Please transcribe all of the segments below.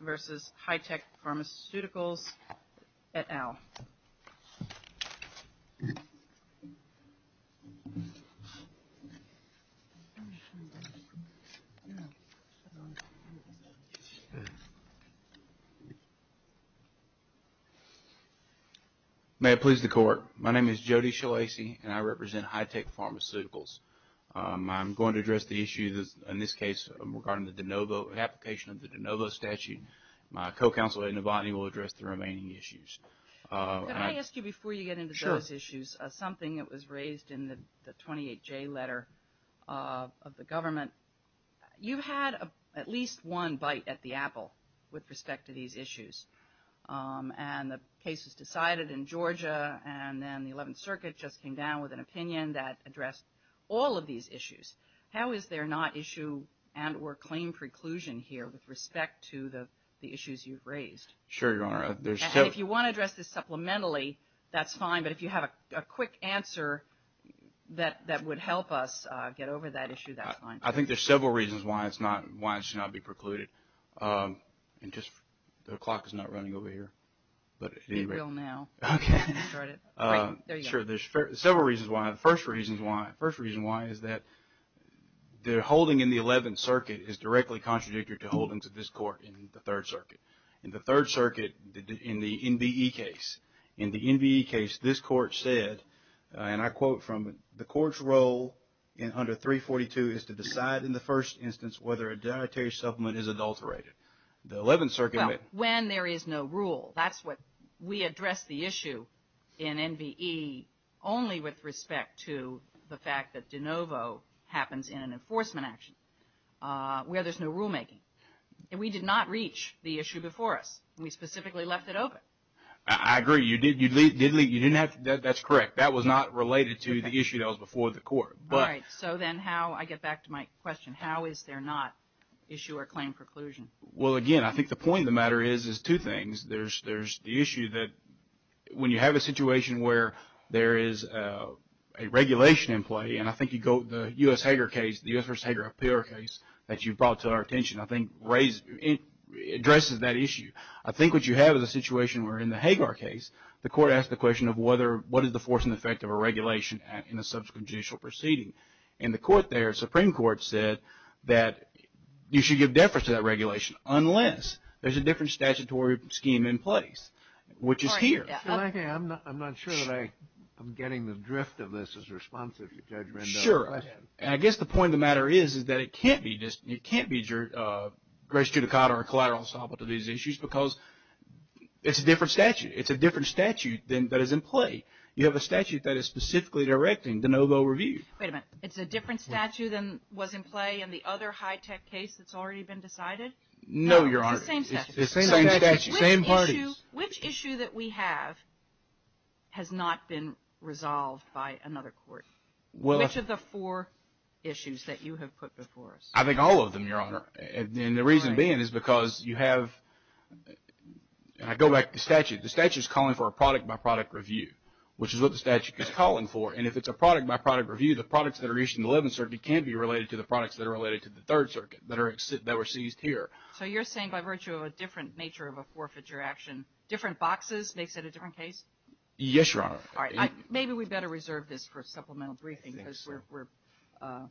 versus Hitech Pharmaceuticals et al. May it please the Court, my name is Jody Shalasi, and I represent Hitech Pharmaceuticals. I'm going to address the issue in this case regarding the application of the DeNovo statute. My co-counsel Ed Novotny will address the remaining issues. Could I ask you before you get into those issues, something that was raised in the 28J letter of the government. You had at least one bite at the apple with respect to these issues, and the case was decided in Georgia, and then the 11th Circuit just came down with an opinion that addressed all of these issues. How is there not issue and or claim preclusion here with respect to the issues you've raised? Sure, Your Honor. If you want to address this supplementally, that's fine. But if you have a quick answer that would help us get over that issue, that's fine. I think there's several reasons why it should not be precluded. The clock is not running over here. It will now. Okay. There you go. Sure, there's several reasons why. The first reason why is that the holding in the 11th Circuit is directly contradictory to holdings of this Court in the 3rd Circuit. In the 3rd Circuit, in the NBE case, in the NBE case, this Court said, and I quote from it, the Court's role under 342 is to decide in the first instance whether a dietary supplement is adulterated. The 11th Circuit went. Well, when there is no rule. That's what we addressed the issue in NBE only with respect to the fact that de novo happens in an enforcement action where there's no rulemaking. We did not reach the issue before us. We specifically left it open. I agree. You didn't have to. That's correct. That was not related to the issue that was before the Court. All right. So then how, I get back to my question, how is there not issue or claim preclusion? Well, again, I think the point of the matter is two things. There's the issue that when you have a situation where there is a regulation in play, and I think you go to the U.S. Hager case, the U.S. versus Hager appeal case that you brought to our attention, I think addresses that issue. I think what you have is a situation where in the Hager case, the Court asked the question of what is the force and effect of a regulation in a subsequent judicial proceeding. And the Court there, Supreme Court, said that you should give deference to that regulation unless there's a different statutory scheme in place, which is here. I'm not sure that I'm getting the drift of this as responsive to Judge Rendon's question. Sure. And I guess the point of the matter is that it can't be just grace judicata or collateral solvable to these issues because it's a different statute. It's a different statute that is in play. You have a statute that is specifically directing de novo review. Wait a minute. It's a different statute than was in play in the other high-tech case that's already been decided? No, Your Honor. It's the same statute. Same parties. Which issue that we have has not been resolved by another court? Which of the four issues that you have put before us? I think all of them, Your Honor. And the reason being is because you have, and I go back to the statute, the statute is calling for a product-by-product review, which is what the statute is calling for. And if it's a product-by-product review, the products that are issued in the 11th Circuit can be related to the products that are related to the 3rd Circuit that were seized here. So you're saying by virtue of a different nature of a forfeiture action, different boxes makes it a different case? Yes, Your Honor. All right. Maybe we better reserve this for supplemental briefing. I think so.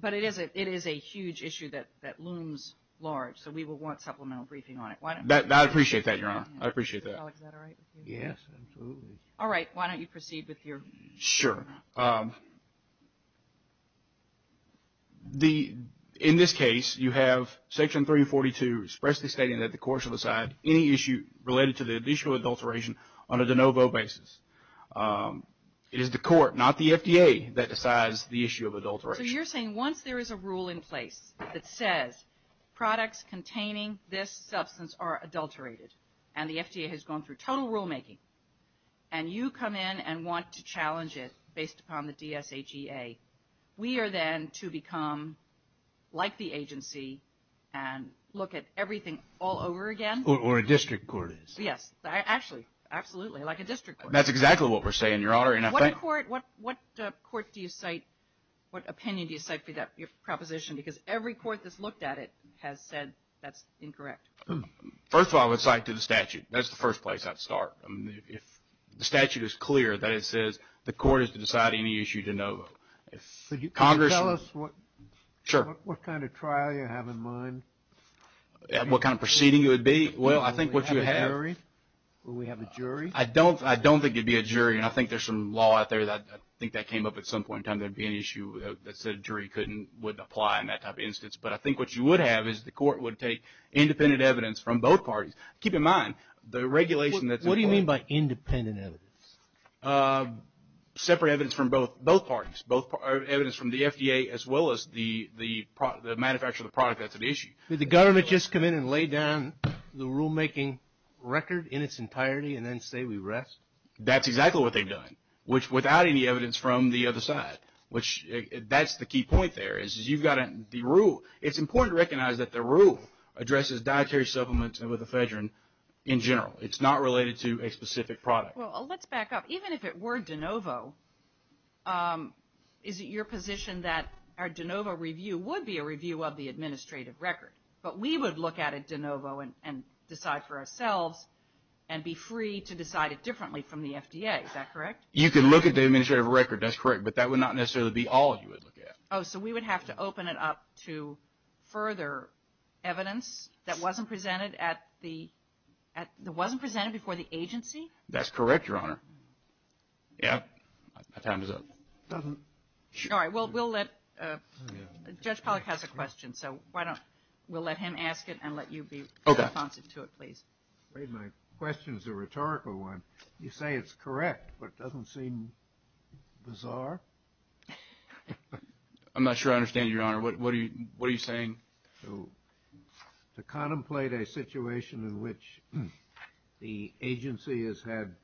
But it is a huge issue that looms large, so we will want supplemental briefing on it. I appreciate that, Your Honor. I appreciate that. Alex, is that all right with you? Yes, absolutely. All right. Why don't you proceed with your? Sure. In this case, you have Section 342 expressly stating that the courts will decide any issue related to the issue of adulteration on a de novo basis. It is the court, not the FDA, that decides the issue of adulteration. So you're saying once there is a rule in place that says products containing this substance are adulterated, and the FDA has gone through total rulemaking, and you come in and want to challenge it based upon the DSHEA, we are then to become like the agency and look at everything all over again? Or a district court is. Yes. Actually, absolutely, like a district court. That's exactly what we're saying, Your Honor. What court do you cite? What opinion do you cite for that proposition? Because every court that's looked at it has said that's incorrect. First of all, I would cite to the statute. That's the first place I'd start. If the statute is clear that it says the court is to decide any issue de novo. Can you tell us what kind of trial you have in mind? What kind of proceeding it would be? Will we have a jury? I don't think it would be a jury, and I think there's some law out there. I think that came up at some point in time. There would be an issue that said a jury wouldn't apply in that type of instance. But I think what you would have is the court would take independent evidence from both parties. Keep in mind the regulation that's in place. What do you mean by independent evidence? Separate evidence from both parties. Evidence from the FDA as well as the manufacturer of the product that's at issue. Did the government just come in and lay down the rulemaking record in its entirety and then say we rest? That's exactly what they've done, without any evidence from the other side. That's the key point there. It's important to recognize that the rule addresses dietary supplements with ephedrine in general. It's not related to a specific product. Well, let's back up. Even if it were de novo, is it your position that our de novo review would be a review of the administrative record? But we would look at it de novo and decide for ourselves and be free to decide it differently from the FDA. Is that correct? You can look at the administrative record. That's correct. But that would not necessarily be all you would look at. Oh, so we would have to open it up to further evidence that wasn't presented before the agency? That's correct, Your Honor. Yep. My time is up. All right. Judge Pollack has a question, so we'll let him ask it and let you be responsive to it, please. My question is a rhetorical one. You say it's correct, but it doesn't seem bizarre. I'm not sure I understand, Your Honor. What are you saying? To contemplate a situation in which the agency has had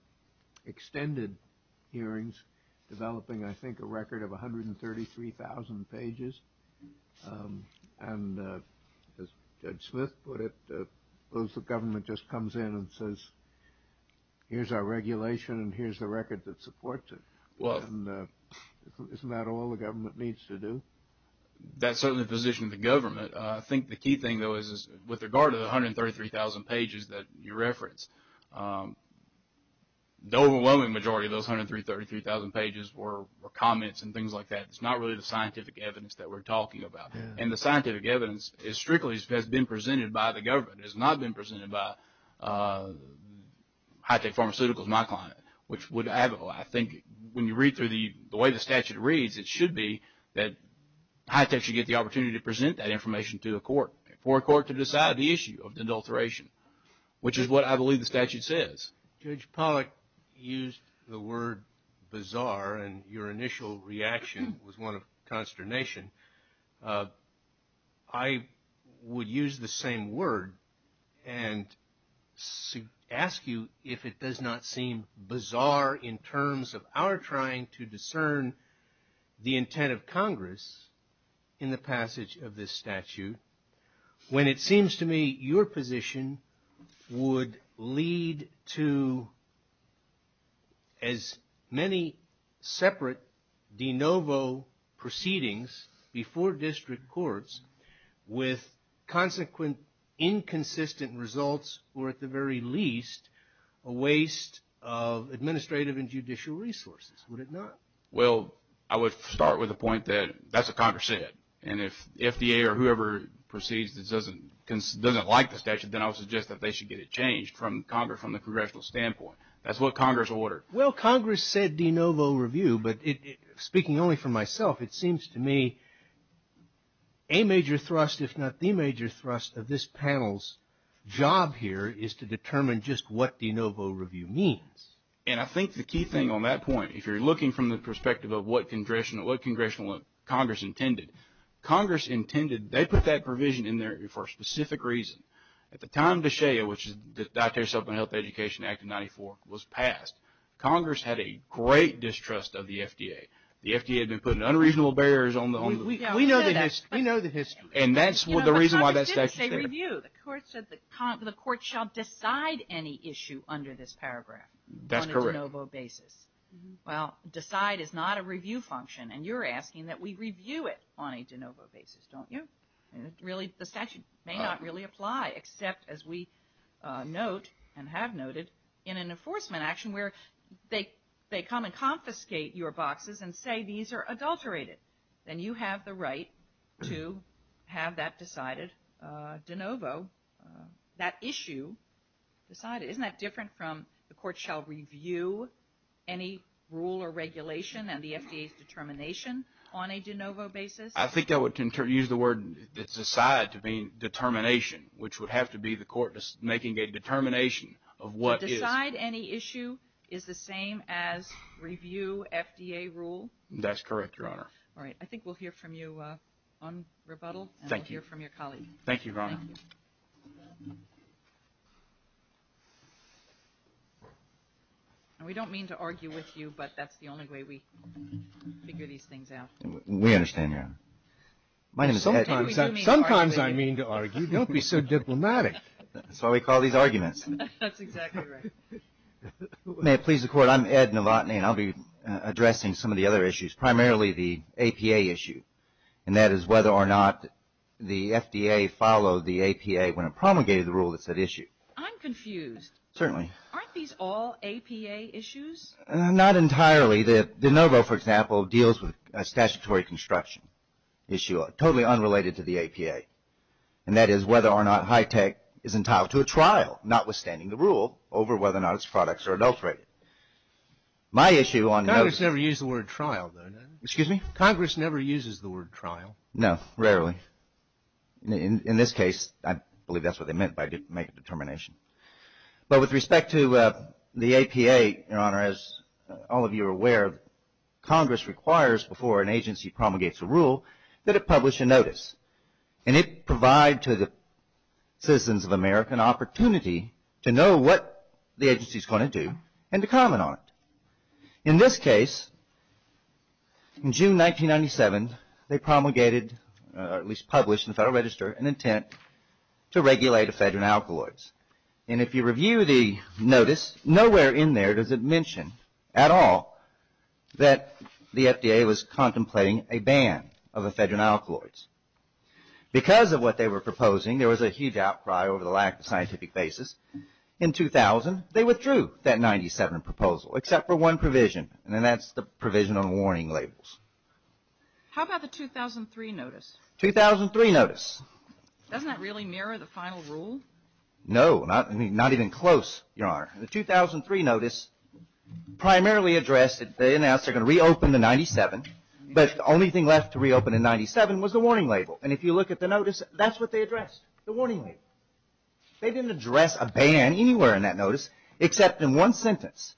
extended hearings developing, I think, a record of 133,000 pages, and as Judge Smith put it, the government just comes in and says, here's our regulation and here's the record that supports it. Isn't that all the government needs to do? That's certainly the position of the government. I think the key thing, though, is with regard to the 133,000 pages that you referenced, the overwhelming majority of those 133,000 pages were comments and things like that. It's not really the scientific evidence that we're talking about, and the scientific evidence strictly has been presented by the government. It has not been presented by HITECH Pharmaceuticals, my client, which would add a lot. I think when you read through the way the statute reads, it should be that HITECH should get the opportunity to present that information to a court, for a court to decide the issue of the adulteration, which is what I believe the statute says. Judge Pollack used the word bizarre, and your initial reaction was one of consternation. I would use the same word and ask you if it does not seem bizarre in terms of our trying to discern the intent of Congress in the passage of this statute, when it seems to me your position would lead to as many separate de novo proceedings before district courts with consequent inconsistent results, or at the very least, a waste of administrative and judicial resources. Would it not? Well, I would start with the point that that's what Congress said. And if FDA or whoever proceeds that doesn't like the statute, then I would suggest that they should get it changed from the Congressional standpoint. That's what Congress ordered. Well, Congress said de novo review, but speaking only for myself, it seems to me a major thrust, if not the major thrust of this panel's job here, is to determine just what de novo review means. And I think the key thing on that point, if you're looking from the perspective of what Congress intended, Congress intended, they put that provision in there for a specific reason. At the time De Shea, which is the Dietary Supplemental Health Education Act of 1994, was passed, Congress had a great distrust of the FDA. The FDA had been putting unreasonable barriers on the move. We know the history. We know the history. And that's the reason why that statute is there. But Congress didn't say review. The court said the court shall decide any issue under this paragraph on a de novo basis. Well, decide is not a review function. And you're asking that we review it on a de novo basis, don't you? Really, the statute may not really apply, except as we note and have noted in an enforcement action where they come and confiscate your boxes and say these are adulterated. Then you have the right to have that decided de novo, that issue decided. Isn't that different from the court shall review any rule or regulation and the FDA's determination on a de novo basis? I think I would use the word decide to mean determination, which would have to be the court making a determination of what is. To decide any issue is the same as review FDA rule? That's correct, Your Honor. All right. I think we'll hear from you on rebuttal. Thank you. And we'll hear from your colleague. Thank you, Your Honor. Thank you. We don't mean to argue with you, but that's the only way we figure these things out. We understand, Your Honor. Sometimes I mean to argue. Don't be so diplomatic. That's why we call these arguments. That's exactly right. May it please the Court, I'm Ed Novotny, and I'll be addressing some of the other issues, primarily the APA issue, and that is whether or not the FDA followed the APA when it promulgated the rule that's at issue. I'm confused. Certainly. Aren't these all APA issues? Not entirely. De novo, for example, deals with a statutory construction issue totally unrelated to the APA, and that is whether or not high tech is entitled to a trial, notwithstanding the rule, over whether or not its products are adulterated. My issue on de novo. Congress never used the word trial, though. Excuse me? Congress never uses the word trial. No, rarely. In this case, I believe that's what they meant by make a determination. But with respect to the APA, Your Honor, as all of you are aware, Congress requires before an agency promulgates a rule that it publish a notice, and it provides to the citizens of America an opportunity to know what the agency is going to do and to comment on it. In this case, in June 1997, they promulgated, or at least published in the Federal Register, an intent to regulate ephedrine alkaloids. And if you review the notice, nowhere in there does it mention at all that the FDA was contemplating a ban of ephedrine alkaloids. Because of what they were proposing, there was a huge outcry over the lack of scientific basis. In 2000, they withdrew that 97 proposal, except for one provision, and that's the provision on warning labels. How about the 2003 notice? 2003 notice. Doesn't that really mirror the final rule? No, not even close, Your Honor. The 2003 notice primarily addressed that they announced they're going to reopen the 97, but the only thing left to reopen the 97 was the warning label. And if you look at the notice, that's what they addressed, the warning label. They didn't address a ban anywhere in that notice, except in one sentence.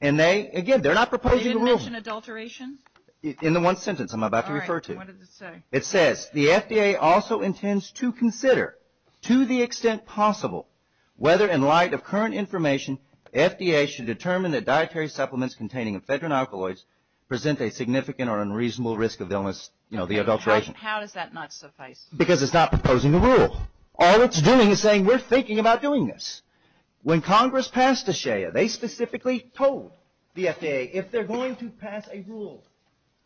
And they, again, they're not proposing a rule. They didn't mention adulteration? In the one sentence I'm about to refer to. All right, what does it say? It says, the FDA also intends to consider, to the extent possible, whether in light of current information, FDA should determine that dietary supplements containing ephedrine alkaloids present a significant or unreasonable risk of illness, you know, the adulteration. How does that not suffice? Because it's not proposing a rule. All it's doing is saying, we're thinking about doing this. When Congress passed the SHEA, they specifically told the FDA, if they're going to pass a rule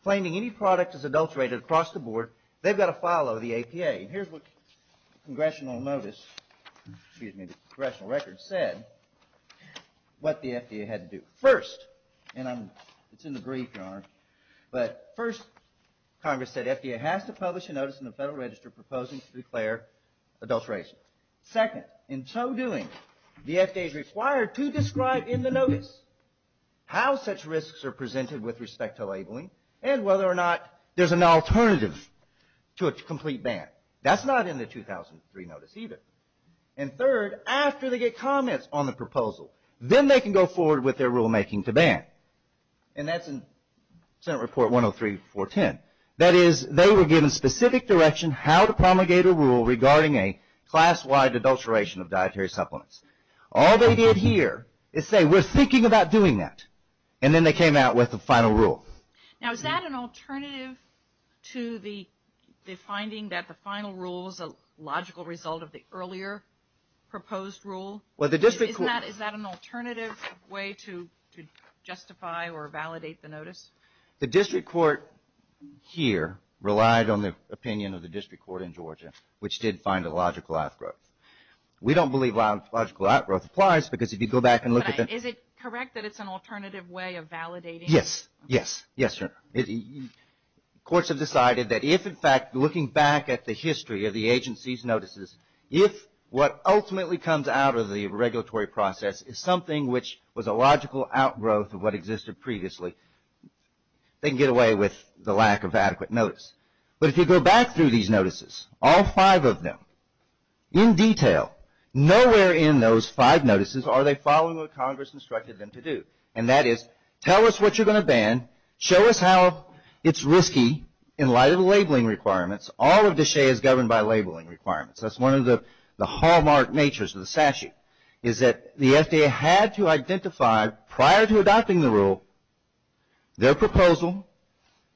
claiming any product is adulterated across the board, they've got to follow the APA. And here's what the congressional notice, excuse me, the congressional record said, what the FDA had to do. First, and it's in the brief, Your Honor, but first, Congress said, proposing to declare adulteration. Second, in so doing, the FDA is required to describe in the notice how such risks are presented with respect to labeling and whether or not there's an alternative to a complete ban. That's not in the 2003 notice either. And third, after they get comments on the proposal, then they can go forward with their rulemaking to ban. And that's in Senate Report 103-410. That is, they were given specific direction how to promulgate a rule regarding a class-wide adulteration of dietary supplements. All they did here is say, we're thinking about doing that. And then they came out with the final rule. Now, is that an alternative to the finding that the final rule is a logical result of the earlier proposed rule? Is that an alternative way to justify or validate the notice? The district court here relied on the opinion of the district court in Georgia, which did find a logical outgrowth. We don't believe a logical outgrowth applies because if you go back and look at the – But is it correct that it's an alternative way of validating? Yes. Yes. Yes, Your Honor. Courts have decided that if, in fact, looking back at the history of the agency's notices, if what ultimately comes out of the regulatory process is something which was a logical outgrowth of what existed previously, they can get away with the lack of adequate notice. But if you go back through these notices, all five of them, in detail, nowhere in those five notices are they following what Congress instructed them to do. And that is, tell us what you're going to ban. Show us how it's risky in light of the labeling requirements. All of DSHEA is governed by labeling requirements. That's one of the hallmark natures of the statute, is that the FDA had to identify, prior to adopting the rule, their proposal,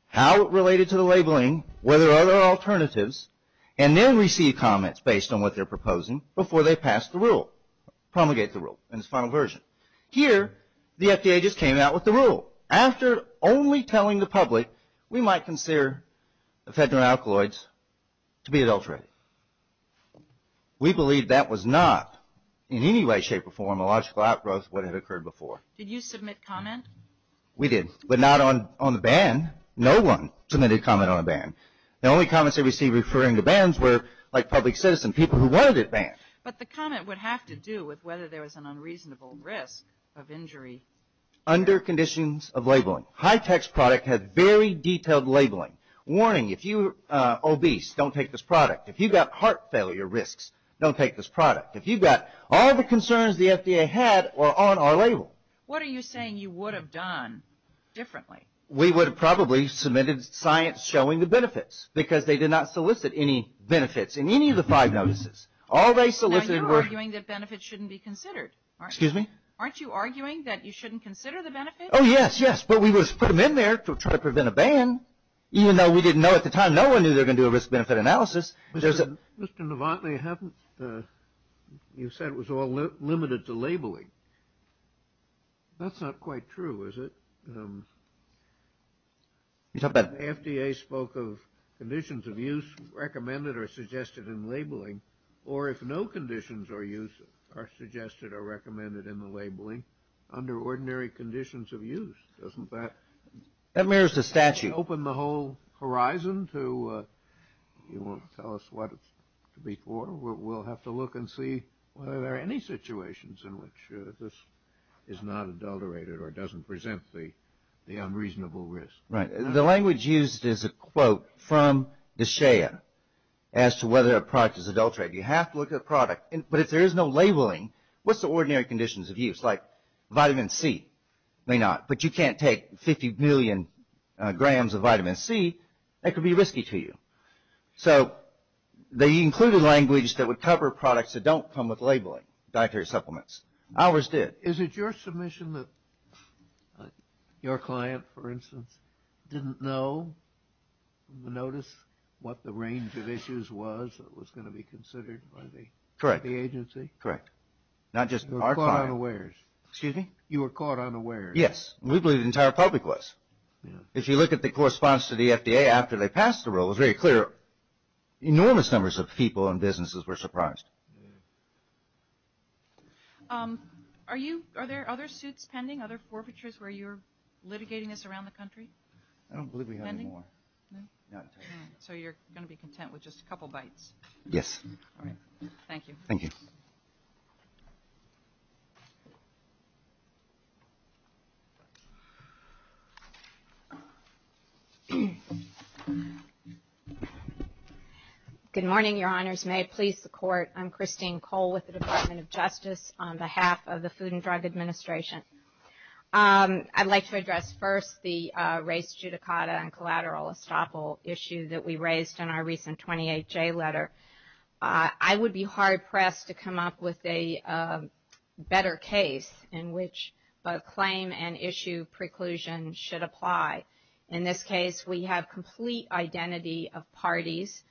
how it related to the labeling, whether there are other alternatives, and then receive comments based on what they're proposing before they pass the rule, promulgate the rule in its final version. Here, the FDA just came out with the rule. After only telling the public, we might consider ephedra and alkaloids to be adulterated. We believe that was not, in any way, shape, or form, a logical outgrowth of what had occurred before. Did you submit comment? We did, but not on the ban. No one submitted comment on a ban. The only comments that we see referring to bans were, like public citizen, people who wanted it banned. But the comment would have to do with whether there was an unreasonable risk of injury. Under conditions of labeling. HITECH's product had very detailed labeling. Warning, if you're obese, don't take this product. If you've got heart failure risks, don't take this product. If you've got all the concerns the FDA had were on our label. What are you saying you would have done differently? We would have probably submitted science showing the benefits, because they did not solicit any benefits in any of the five notices. Now, you're arguing that benefits shouldn't be considered, aren't you? Excuse me? Aren't you arguing that you shouldn't consider the benefits? Oh, yes, yes. But we would have put them in there to try to prevent a ban, even though we didn't know at the time, no one knew they were going to do a risk-benefit analysis. Mr. Novotny, you said it was all limited to labeling. That's not quite true, is it? The FDA spoke of conditions of use recommended or suggested in labeling, or if no conditions of use are suggested or recommended in the labeling, under ordinary conditions of use, doesn't that? That mirrors the statute. It doesn't open the whole horizon to tell us what it's to be for. We'll have to look and see whether there are any situations in which this is not adulterated or doesn't present the unreasonable risk. Right. The language used is a quote from D'Shea as to whether a product is adulterated. You have to look at the product. But if there is no labeling, what's the ordinary conditions of use? Vitamin C may not, but you can't take 50 million grams of vitamin C. That could be risky to you. So they included language that would cover products that don't come with labeling dietary supplements. Ours did. Is it your submission that your client, for instance, didn't know from the notice what the range of issues was that was going to be considered by the agency? Correct. Correct. Not just our client. You were caught unawares. Excuse me? You were caught unaware. Yes. We believe the entire public was. If you look at the correspondence to the FDA after they passed the rule, it was very clear. Enormous numbers of people and businesses were surprised. Are there other suits pending, other forfeitures where you're litigating this around the country? I don't believe we have any more. Pending? No. So you're going to be content with just a couple bites. Yes. All right. Thank you. Thank you. Good morning, Your Honors. May it please the Court. I'm Christine Cole with the Department of Justice on behalf of the Food and Drug Administration. I'd like to address first the race judicata and collateral estoppel issue that we raised in our recent 28-J letter. I would be hard-pressed to come up with a better case in which a claim and issue preclusion should apply. In this case, we have complete identity of parties.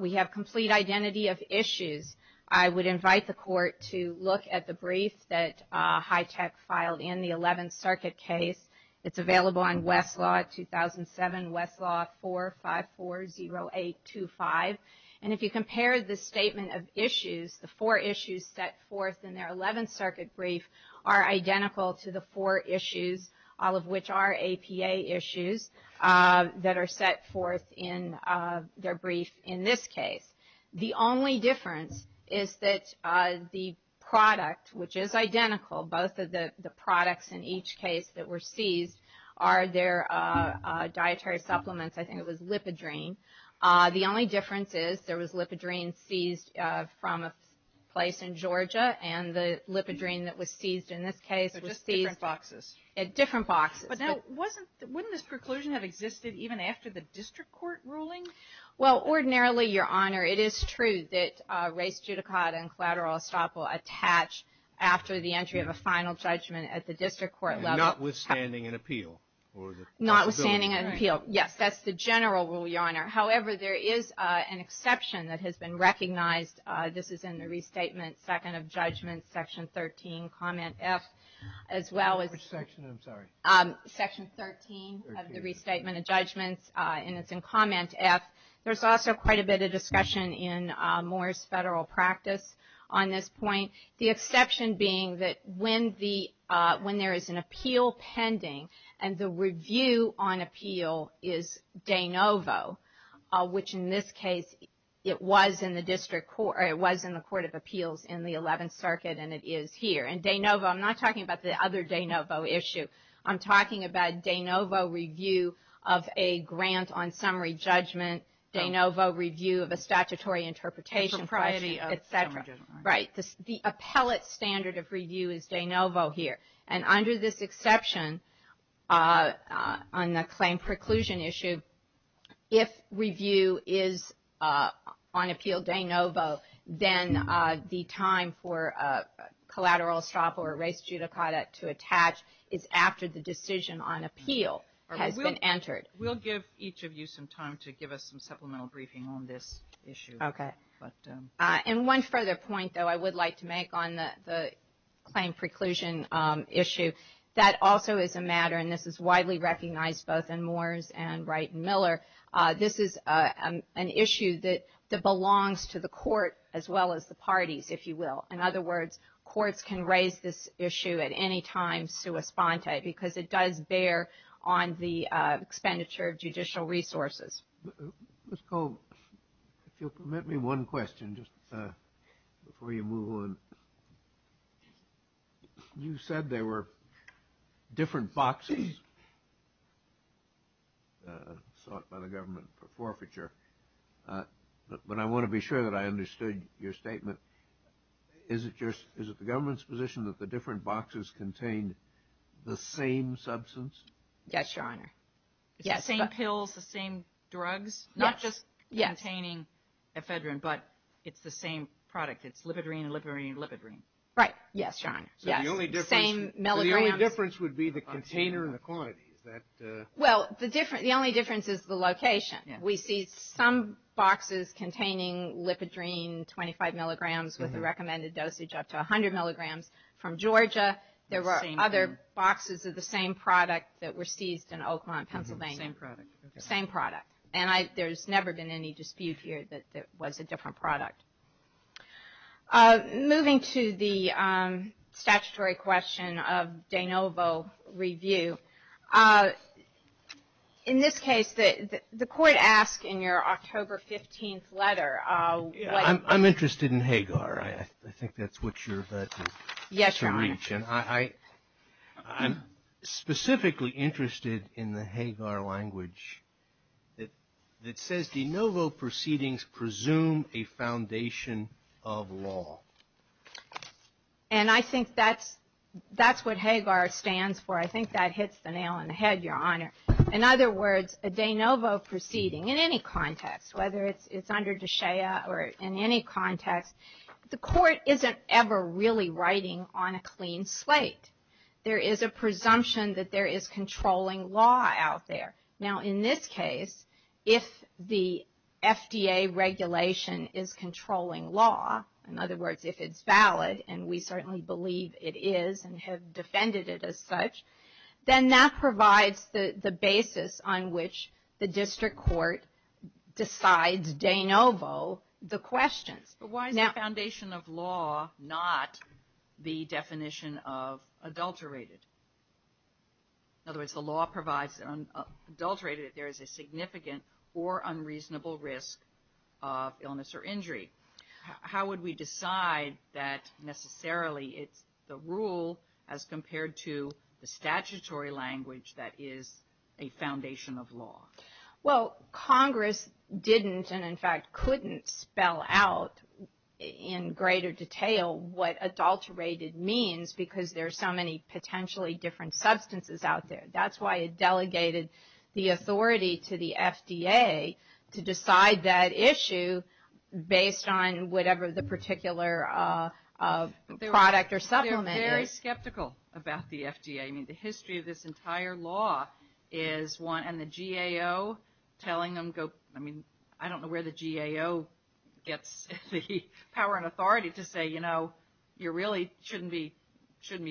We have complete identity of issues. I would invite the Court to look at the brief that HITECH filed in the 11th Circuit case. It's available on Westlaw 2007, Westlaw 4540825. And if you compare the statement of issues, the four issues set forth in their 11th Circuit brief are identical to the four issues, all of which are APA issues that are set forth in their brief in this case. The only difference is that the product, which is identical, both of the products in each case that were seized are their dietary supplements. I think it was Lipidrine. The only difference is there was Lipidrine seized from a place in Georgia, and the Lipidrine that was seized in this case was seized at different boxes. But now, wouldn't this preclusion have existed even after the district court ruling? Well, ordinarily, Your Honor, it is true that race, judicata, and collateral estoppel attach after the entry of a final judgment at the district court level. Notwithstanding an appeal? Notwithstanding an appeal, yes. That's the general rule, Your Honor. However, there is an exception that has been recognized. This is in the restatement, second of judgments, section 13, comment F, as well as section 13 of the restatement of judgments. And it's in comment F. There's also quite a bit of discussion in Moore's federal practice on this point, the exception being that when there is an appeal pending and the review on appeal is de novo, which in this case it was in the court of appeals in the 11th Circuit and it is here. And de novo, I'm not talking about the other de novo issue. I'm talking about de novo review of a grant on summary judgment, de novo review of a statutory interpretation question, et cetera. Right. The appellate standard of review is de novo here. And under this exception on the claim preclusion issue, if review is on appeal de novo, then the time for collateral estoppel or res judicata to attach is after the decision on appeal has been entered. We'll give each of you some time to give us some supplemental briefing on this issue. Okay. And one further point, though, I would like to make on the claim preclusion issue. That also is a matter, and this is widely recognized both in Moore's and Wright and Miller, this is an issue that belongs to the court as well as the parties, if you will. In other words, courts can raise this issue at any time sua sponte because it does bear on the expenditure of judicial resources. Ms. Cole, if you'll permit me one question just before you move on. You said there were different boxes sought by the government for forfeiture. But I want to be sure that I understood your statement. Is it the government's position that the different boxes contained the same substance? Yes, Your Honor. Yes. The same pills, the same drugs? Yes. Not just containing ephedrine, but it's the same product. It's lipidrine and lipidrine and lipidrine. Right. Yes, Your Honor. Yes. Same milligrams. So the only difference would be the container and the quantity. Well, the only difference is the location. We see some boxes containing lipidrine, 25 milligrams with a recommended dosage up to 100 milligrams. From Georgia, there were other boxes of the same product that were seized in Oakmont, Pennsylvania. Same product. Same product. And there's never been any dispute here that it was a different product. Moving to the statutory question of de novo review, in this case, the court asked in your October 15th letter. I'm interested in Hagar. I think that's what you're about to reach. Yes, Your Honor. I'm specifically interested in the Hagar language that says de novo proceedings presume a foundation of law. And I think that's what Hagar stands for. I think that hits the nail on the head, Your Honor. In other words, a de novo proceeding, in any context, whether it's under DSHEA or in any context, the court isn't ever really writing on a clean slate. There is a presumption that there is controlling law out there. Now, in this case, if the FDA regulation is controlling law, in other words, if it's valid, and we certainly believe it is and have defended it as such, then that provides the basis on which the district court decides de novo the questions. But why is the foundation of law not the definition of adulterated? In other words, the law provides adulterated if there is a significant or unreasonable risk of illness or injury. How would we decide that necessarily it's the rule as compared to the statutory language that is a foundation of law? Well, Congress didn't and, in fact, couldn't spell out in greater detail what adulterated means because there are so many potentially different substances out there. That's why it delegated the authority to the FDA to decide that issue based on whatever the particular product or supplement is. I mean, the history of this entire law is one, and the GAO telling them, I mean, I don't know where the GAO gets the power and authority to say, you know, you really shouldn't be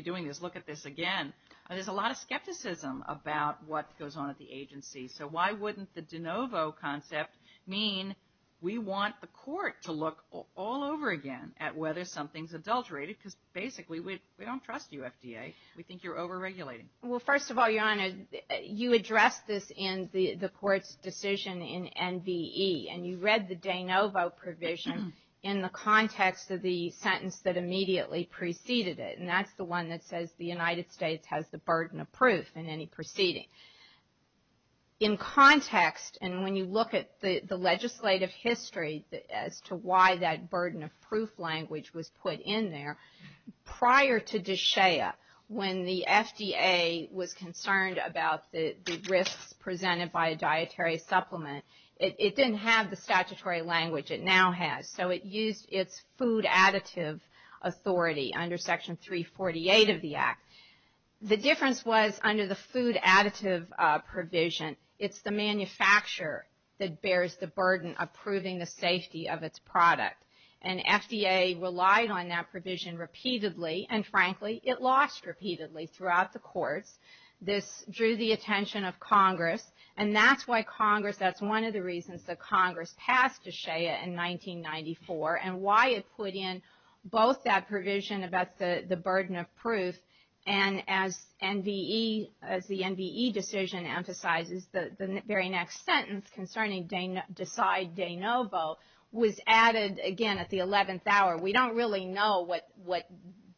doing this. Look at this again. There's a lot of skepticism about what goes on at the agency. So why wouldn't the de novo concept mean we want the court to look all over again at whether something's adulterated because basically we don't trust you, FDA. We think you're overregulating. Well, first of all, Your Honor, you addressed this in the court's decision in NVE, and you read the de novo provision in the context of the sentence that immediately preceded it, and that's the one that says the United States has the burden of proof in any proceeding. In context, and when you look at the legislative history as to why that burden of proof language was put in there, prior to DSHEA, when the FDA was concerned about the risks presented by a dietary supplement, it didn't have the statutory language it now has. So it used its food additive authority under Section 348 of the Act. The difference was under the food additive provision, it's the manufacturer that bears the burden of proving the safety of its product, and FDA relied on that provision repeatedly, and frankly, it lost repeatedly throughout the courts. This drew the attention of Congress, and that's why Congress, that's one of the reasons that Congress passed DSHEA in 1994 and why it put in both that provision about the burden of proof, and as NVE, as the NVE decision emphasizes, the very next sentence concerning decide de novo was added again at the 11th hour. We don't really know what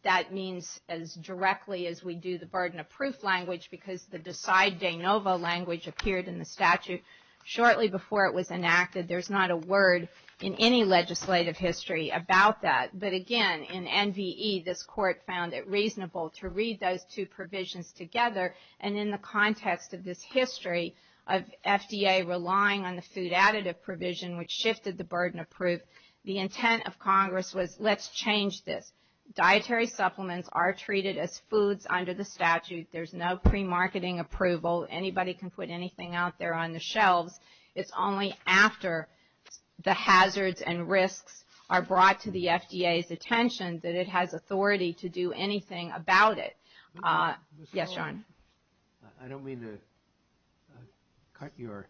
that means as directly as we do the burden of proof language because the decide de novo language appeared in the statute shortly before it was enacted. There's not a word in any legislative history about that, but again, in NVE, this court found it reasonable to read those two provisions together, and in the context of this history of FDA relying on the food additive provision, which shifted the burden of proof, the intent of Congress was let's change this. Dietary supplements are treated as foods under the statute. There's no pre-marketing approval. Anybody can put anything out there on the shelves. It's only after the hazards and risks are brought to the FDA's attention that it has authority to do anything about it. Yes, John. I don't mean to cut your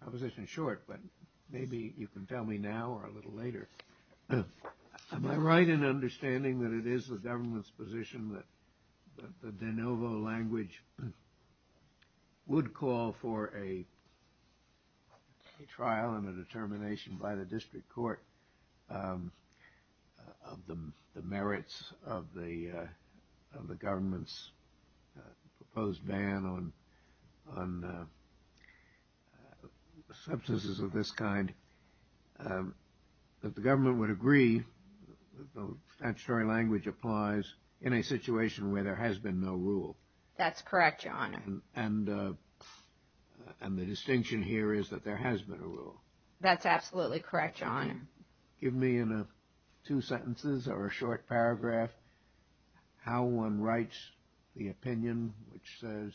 proposition short, but maybe you can tell me now or a little later. Am I right in understanding that it is the government's position that the de novo language would call for a trial and a determination by the district court of the merits of the government's proposed ban on substances of this kind, that the government would agree that statutory language applies in a situation where there has been no rule? And the distinction here is that there has been a rule. That's absolutely correct, John. Give me in two sentences or a short paragraph how one writes the opinion which says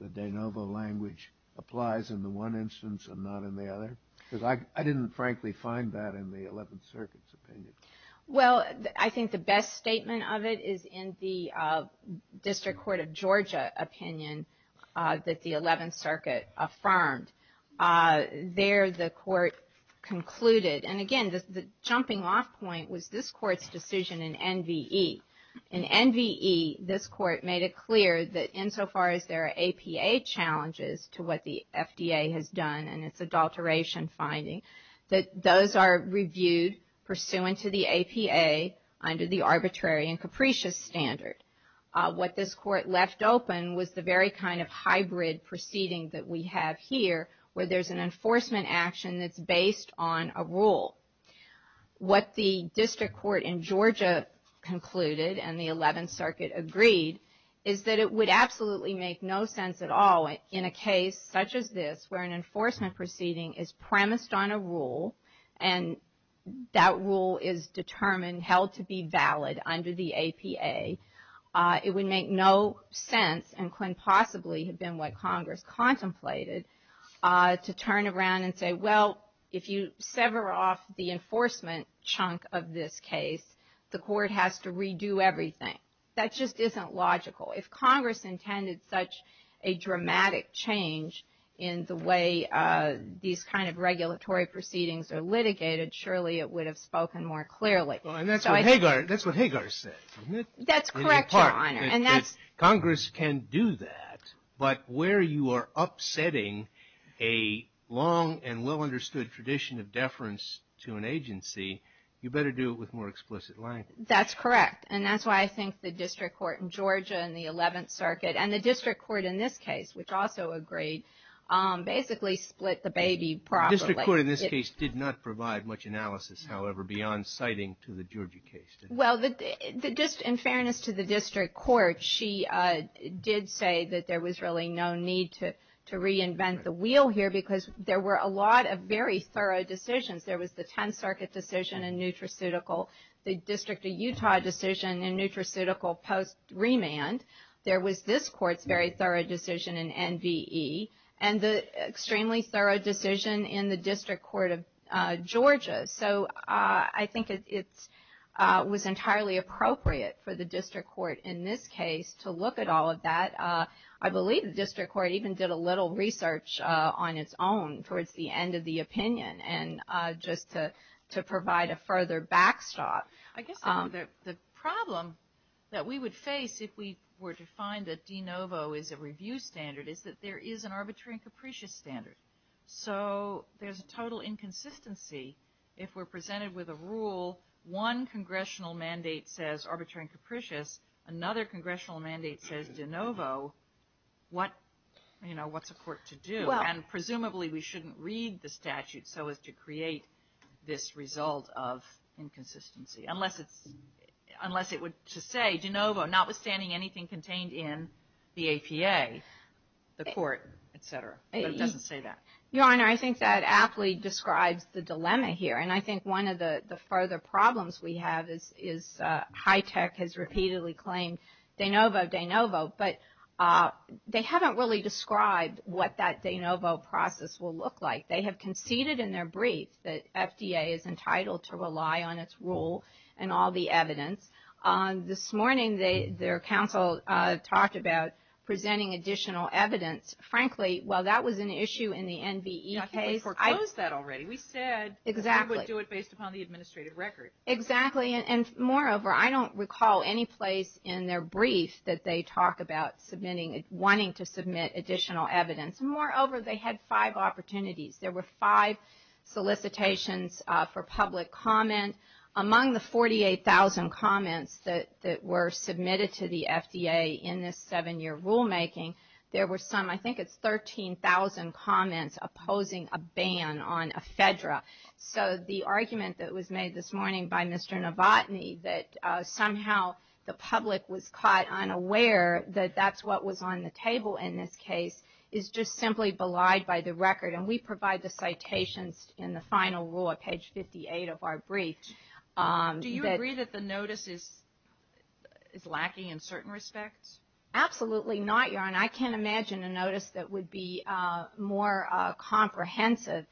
the de novo language applies in the one instance and not in the other, because I didn't frankly find that in the Eleventh Circuit's opinion. Well, I think the best statement of it is in the District Court of Georgia opinion that the Eleventh Circuit affirmed. There the court concluded, and again, the jumping off point was this court's decision in NVE. In NVE, this court made it clear that insofar as there are APA challenges to what the FDA has done and its adulteration finding, that those are reviewed pursuant to the APA under the arbitrary and capricious standard. What this court left open was the very kind of hybrid proceeding that we have here where there's an enforcement action that's based on a rule. What the district court in Georgia concluded and the Eleventh Circuit agreed is that it would absolutely make no sense at all in a case such as this where an enforcement proceeding is premised on a rule and that rule is determined held to be valid under the APA. It would make no sense and could possibly have been what Congress contemplated to turn around and say, well, if you sever off the enforcement chunk of this case, the court has to redo everything. That just isn't logical. If Congress intended such a dramatic change in the way these kind of regulatory proceedings are litigated, surely it would have spoken more clearly. And that's what Hagar said. That's correct, Your Honor. Congress can do that, but where you are upsetting a long and well-understood tradition of deference to an agency, you better do it with more explicit language. That's correct. And that's why I think the district court in Georgia and the Eleventh Circuit and the district court in this case, which also agreed, basically split the baby properly. The district court in this case did not provide much analysis, however, beyond citing to the Georgia case. Well, in fairness to the district court, she did say that there was really no need to reinvent the wheel here because there were a lot of very thorough decisions. There was the Tenth Circuit decision in nutraceutical, the District of Utah decision in nutraceutical post-remand. There was this court's very thorough decision in NVE, and the extremely thorough decision in the district court of Georgia. So I think it was entirely appropriate for the district court in this case to look at all of that. I believe the district court even did a little research on its own towards the end of the opinion. And just to provide a further backstop, the problem that we would face if we were to find that de novo is a review standard is that there is an arbitrary and capricious standard. So there's a total inconsistency. If we're presented with a rule, one congressional mandate says arbitrary and capricious, another congressional mandate says de novo, what's a court to do? And presumably, we shouldn't read the statute so as to create this result of inconsistency, unless it would just say de novo, notwithstanding anything contained in the APA, the court, et cetera. But it doesn't say that. Your Honor, I think that aptly describes the dilemma here. And I think one of the further problems we have is high tech has repeatedly claimed de novo, de novo. But they haven't really described what that de novo process will look like. They have conceded in their brief that FDA is entitled to rely on its rule and all the evidence. This morning, their counsel talked about presenting additional evidence. Frankly, while that was an issue in the NVE case. I think we foreclosed that already. We said we would do it based upon the administrative record. Exactly. And moreover, I don't recall any place in their brief that they talk about submitting, wanting to submit additional evidence. Moreover, they had five opportunities. There were five solicitations for public comment. Among the 48,000 comments that were submitted to the FDA in this seven-year rulemaking, there were some, I think it's 13,000 comments opposing a ban on ephedra. So the argument that was made this morning by Mr. Novotny, that somehow the public was caught unaware that that's what was on the table in this case, is just simply belied by the record. And we provide the citations in the final rule at page 58 of our brief. Do you agree that the notice is lacking in certain respects? Absolutely not, Your Honor. I can't imagine a notice that would be more comprehensive.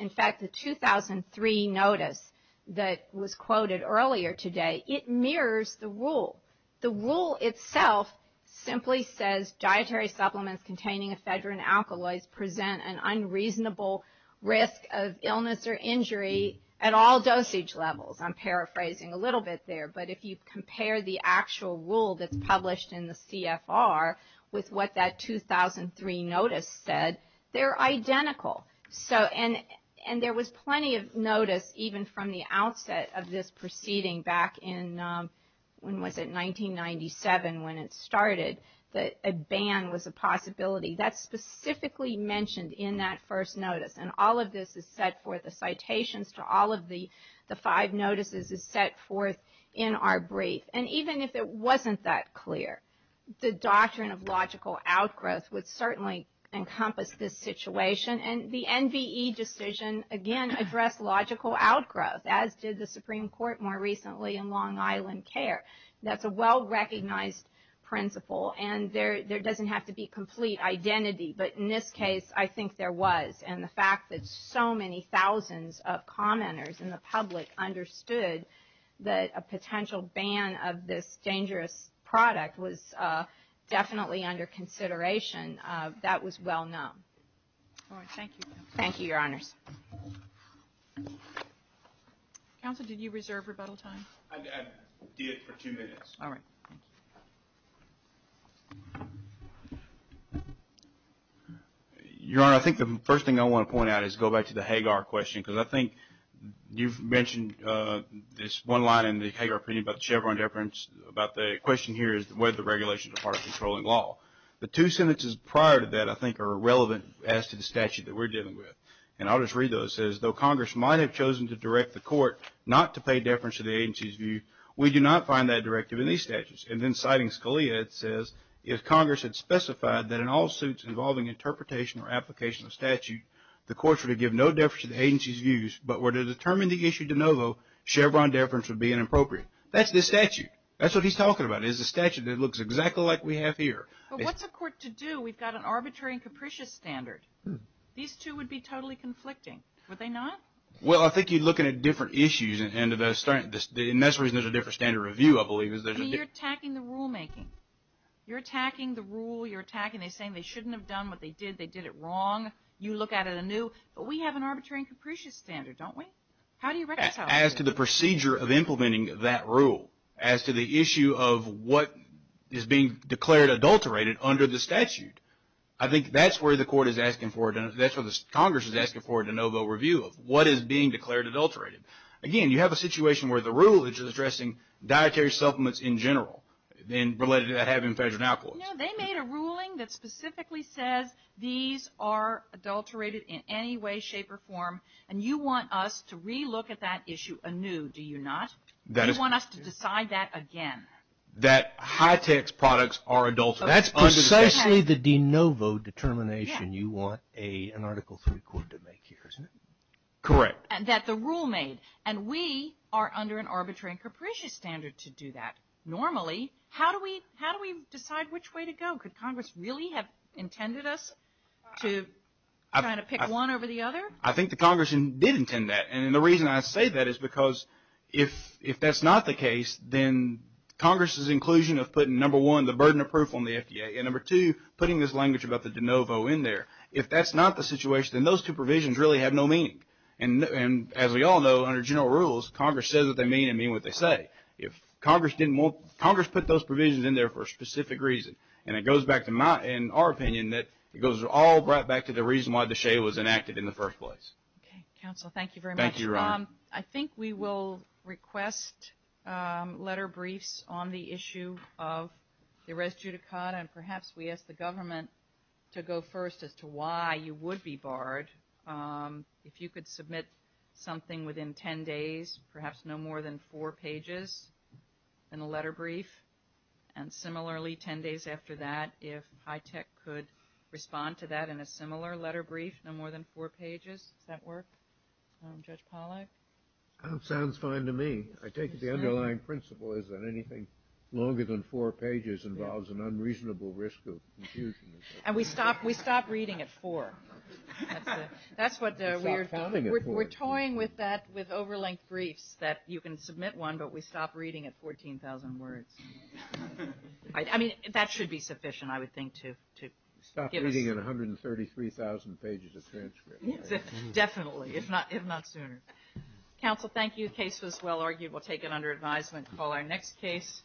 In fact, the 2003 notice that was quoted earlier today, it mirrors the rule. The rule itself simply says, dietary supplements containing ephedra and alkaloids present an unreasonable risk of illness or injury at all dosage levels. I'm paraphrasing a little bit there. But if you compare the actual rule that's published in the CFR with what that 2003 notice said, they're identical. And there was plenty of notice even from the outset of this proceeding back in, when was it, 1997 when it started, that a ban was a possibility. That's specifically mentioned in that first notice. And all of this is set forth, the citations to all of the five notices is set forth in our brief. And even if it wasn't that clear, the doctrine of logical outgrowth would certainly encompass this situation. And the NBE decision, again, addressed logical outgrowth, as did the Supreme Court more recently in Long Island Care. That's a well-recognized principle. And there doesn't have to be complete identity. But in this case, I think there was. And the fact that so many thousands of commenters in the public understood that a potential ban of this dangerous product was definitely under consideration, that was well known. All right. Thank you. Thank you, Your Honors. Counsel, did you reserve rebuttal time? I did for two minutes. All right. Thank you. Your Honor, I think the first thing I want to point out is go back to the Hagar question. Because I think you've mentioned this one line in the Hagar opinion about the Chevron deference, about the question here is whether the regulations are part of controlling law. The two sentences prior to that I think are relevant as to the statute that we're dealing with. And I'll just read those. It says, though Congress might have chosen to direct the court not to pay deference to the agency's view, we do not find that directive in these statutes. And then citing Scalia, it says, if Congress had specified that in all suits involving interpretation or application of statute, the courts were to give no deference to the agency's views but were to determine the issue de novo, Chevron deference would be inappropriate. That's this statute. That's what he's talking about. It's a statute that looks exactly like we have here. But what's a court to do? We've got an arbitrary and capricious standard. These two would be totally conflicting. Would they not? Well, I think you're looking at different issues. And that's the reason there's a different standard of review, I believe. You're attacking the rulemaking. You're attacking the rule. You're attacking. They're saying they shouldn't have done what they did. They did it wrong. You look at it anew. But we have an arbitrary and capricious standard, don't we? How do you reconcile that? As to the procedure of implementing that rule, as to the issue of what is being declared adulterated under the statute, I think that's where the court is asking for, that's what Congress is asking for a de novo review of. What is being declared adulterated? Again, you have a situation where the rule is addressing dietary supplements in general and related to that having federal now courts. You know, they made a ruling that specifically says these are adulterated in any way, shape, or form, and you want us to re-look at that issue anew, do you not? You want us to decide that again. That high-tech products are adulterated. That's precisely the de novo determination you want an Article III court to make here, isn't it? Correct. And that the rule made. And we are under an arbitrary and capricious standard to do that. Normally, how do we decide which way to go? Could Congress really have intended us to try to pick one over the other? I think the Congress did intend that, and the reason I say that is because if that's not the case, then Congress's inclusion of putting, number one, the burden of proof on the FDA, and number two, putting this language about the de novo in there, if that's not the situation, then those two provisions really have no meaning. And as we all know, under general rules, Congress says what they mean and mean what they say. Congress put those provisions in there for a specific reason, and it goes back to, in our opinion, it goes all right back to the reason why the SHAE was enacted in the first place. Okay. Counsel, thank you very much. Thank you, Your Honor. I think we will request letter briefs on the issue of the res judicata, and perhaps we ask the government to go first as to why you would be barred. If you could submit something within 10 days, perhaps no more than four pages in a letter brief, and similarly, 10 days after that, if HITECH could respond to that in a similar letter brief, no more than four pages. Does that work, Judge Pollack? That sounds fine to me. I take it the underlying principle is that anything longer than four pages involves an unreasonable risk of confusion. And we stop reading at four. That's what we're doing. We're toying with that with over-length briefs, that you can submit one, but we stop reading at 14,000 words. I mean, that should be sufficient, I would think, to give us. Stop reading at 133,000 pages of transcript. Definitely, if not sooner. Counsel, thank you. The case was well argued. We'll take it under advisement and call our next case.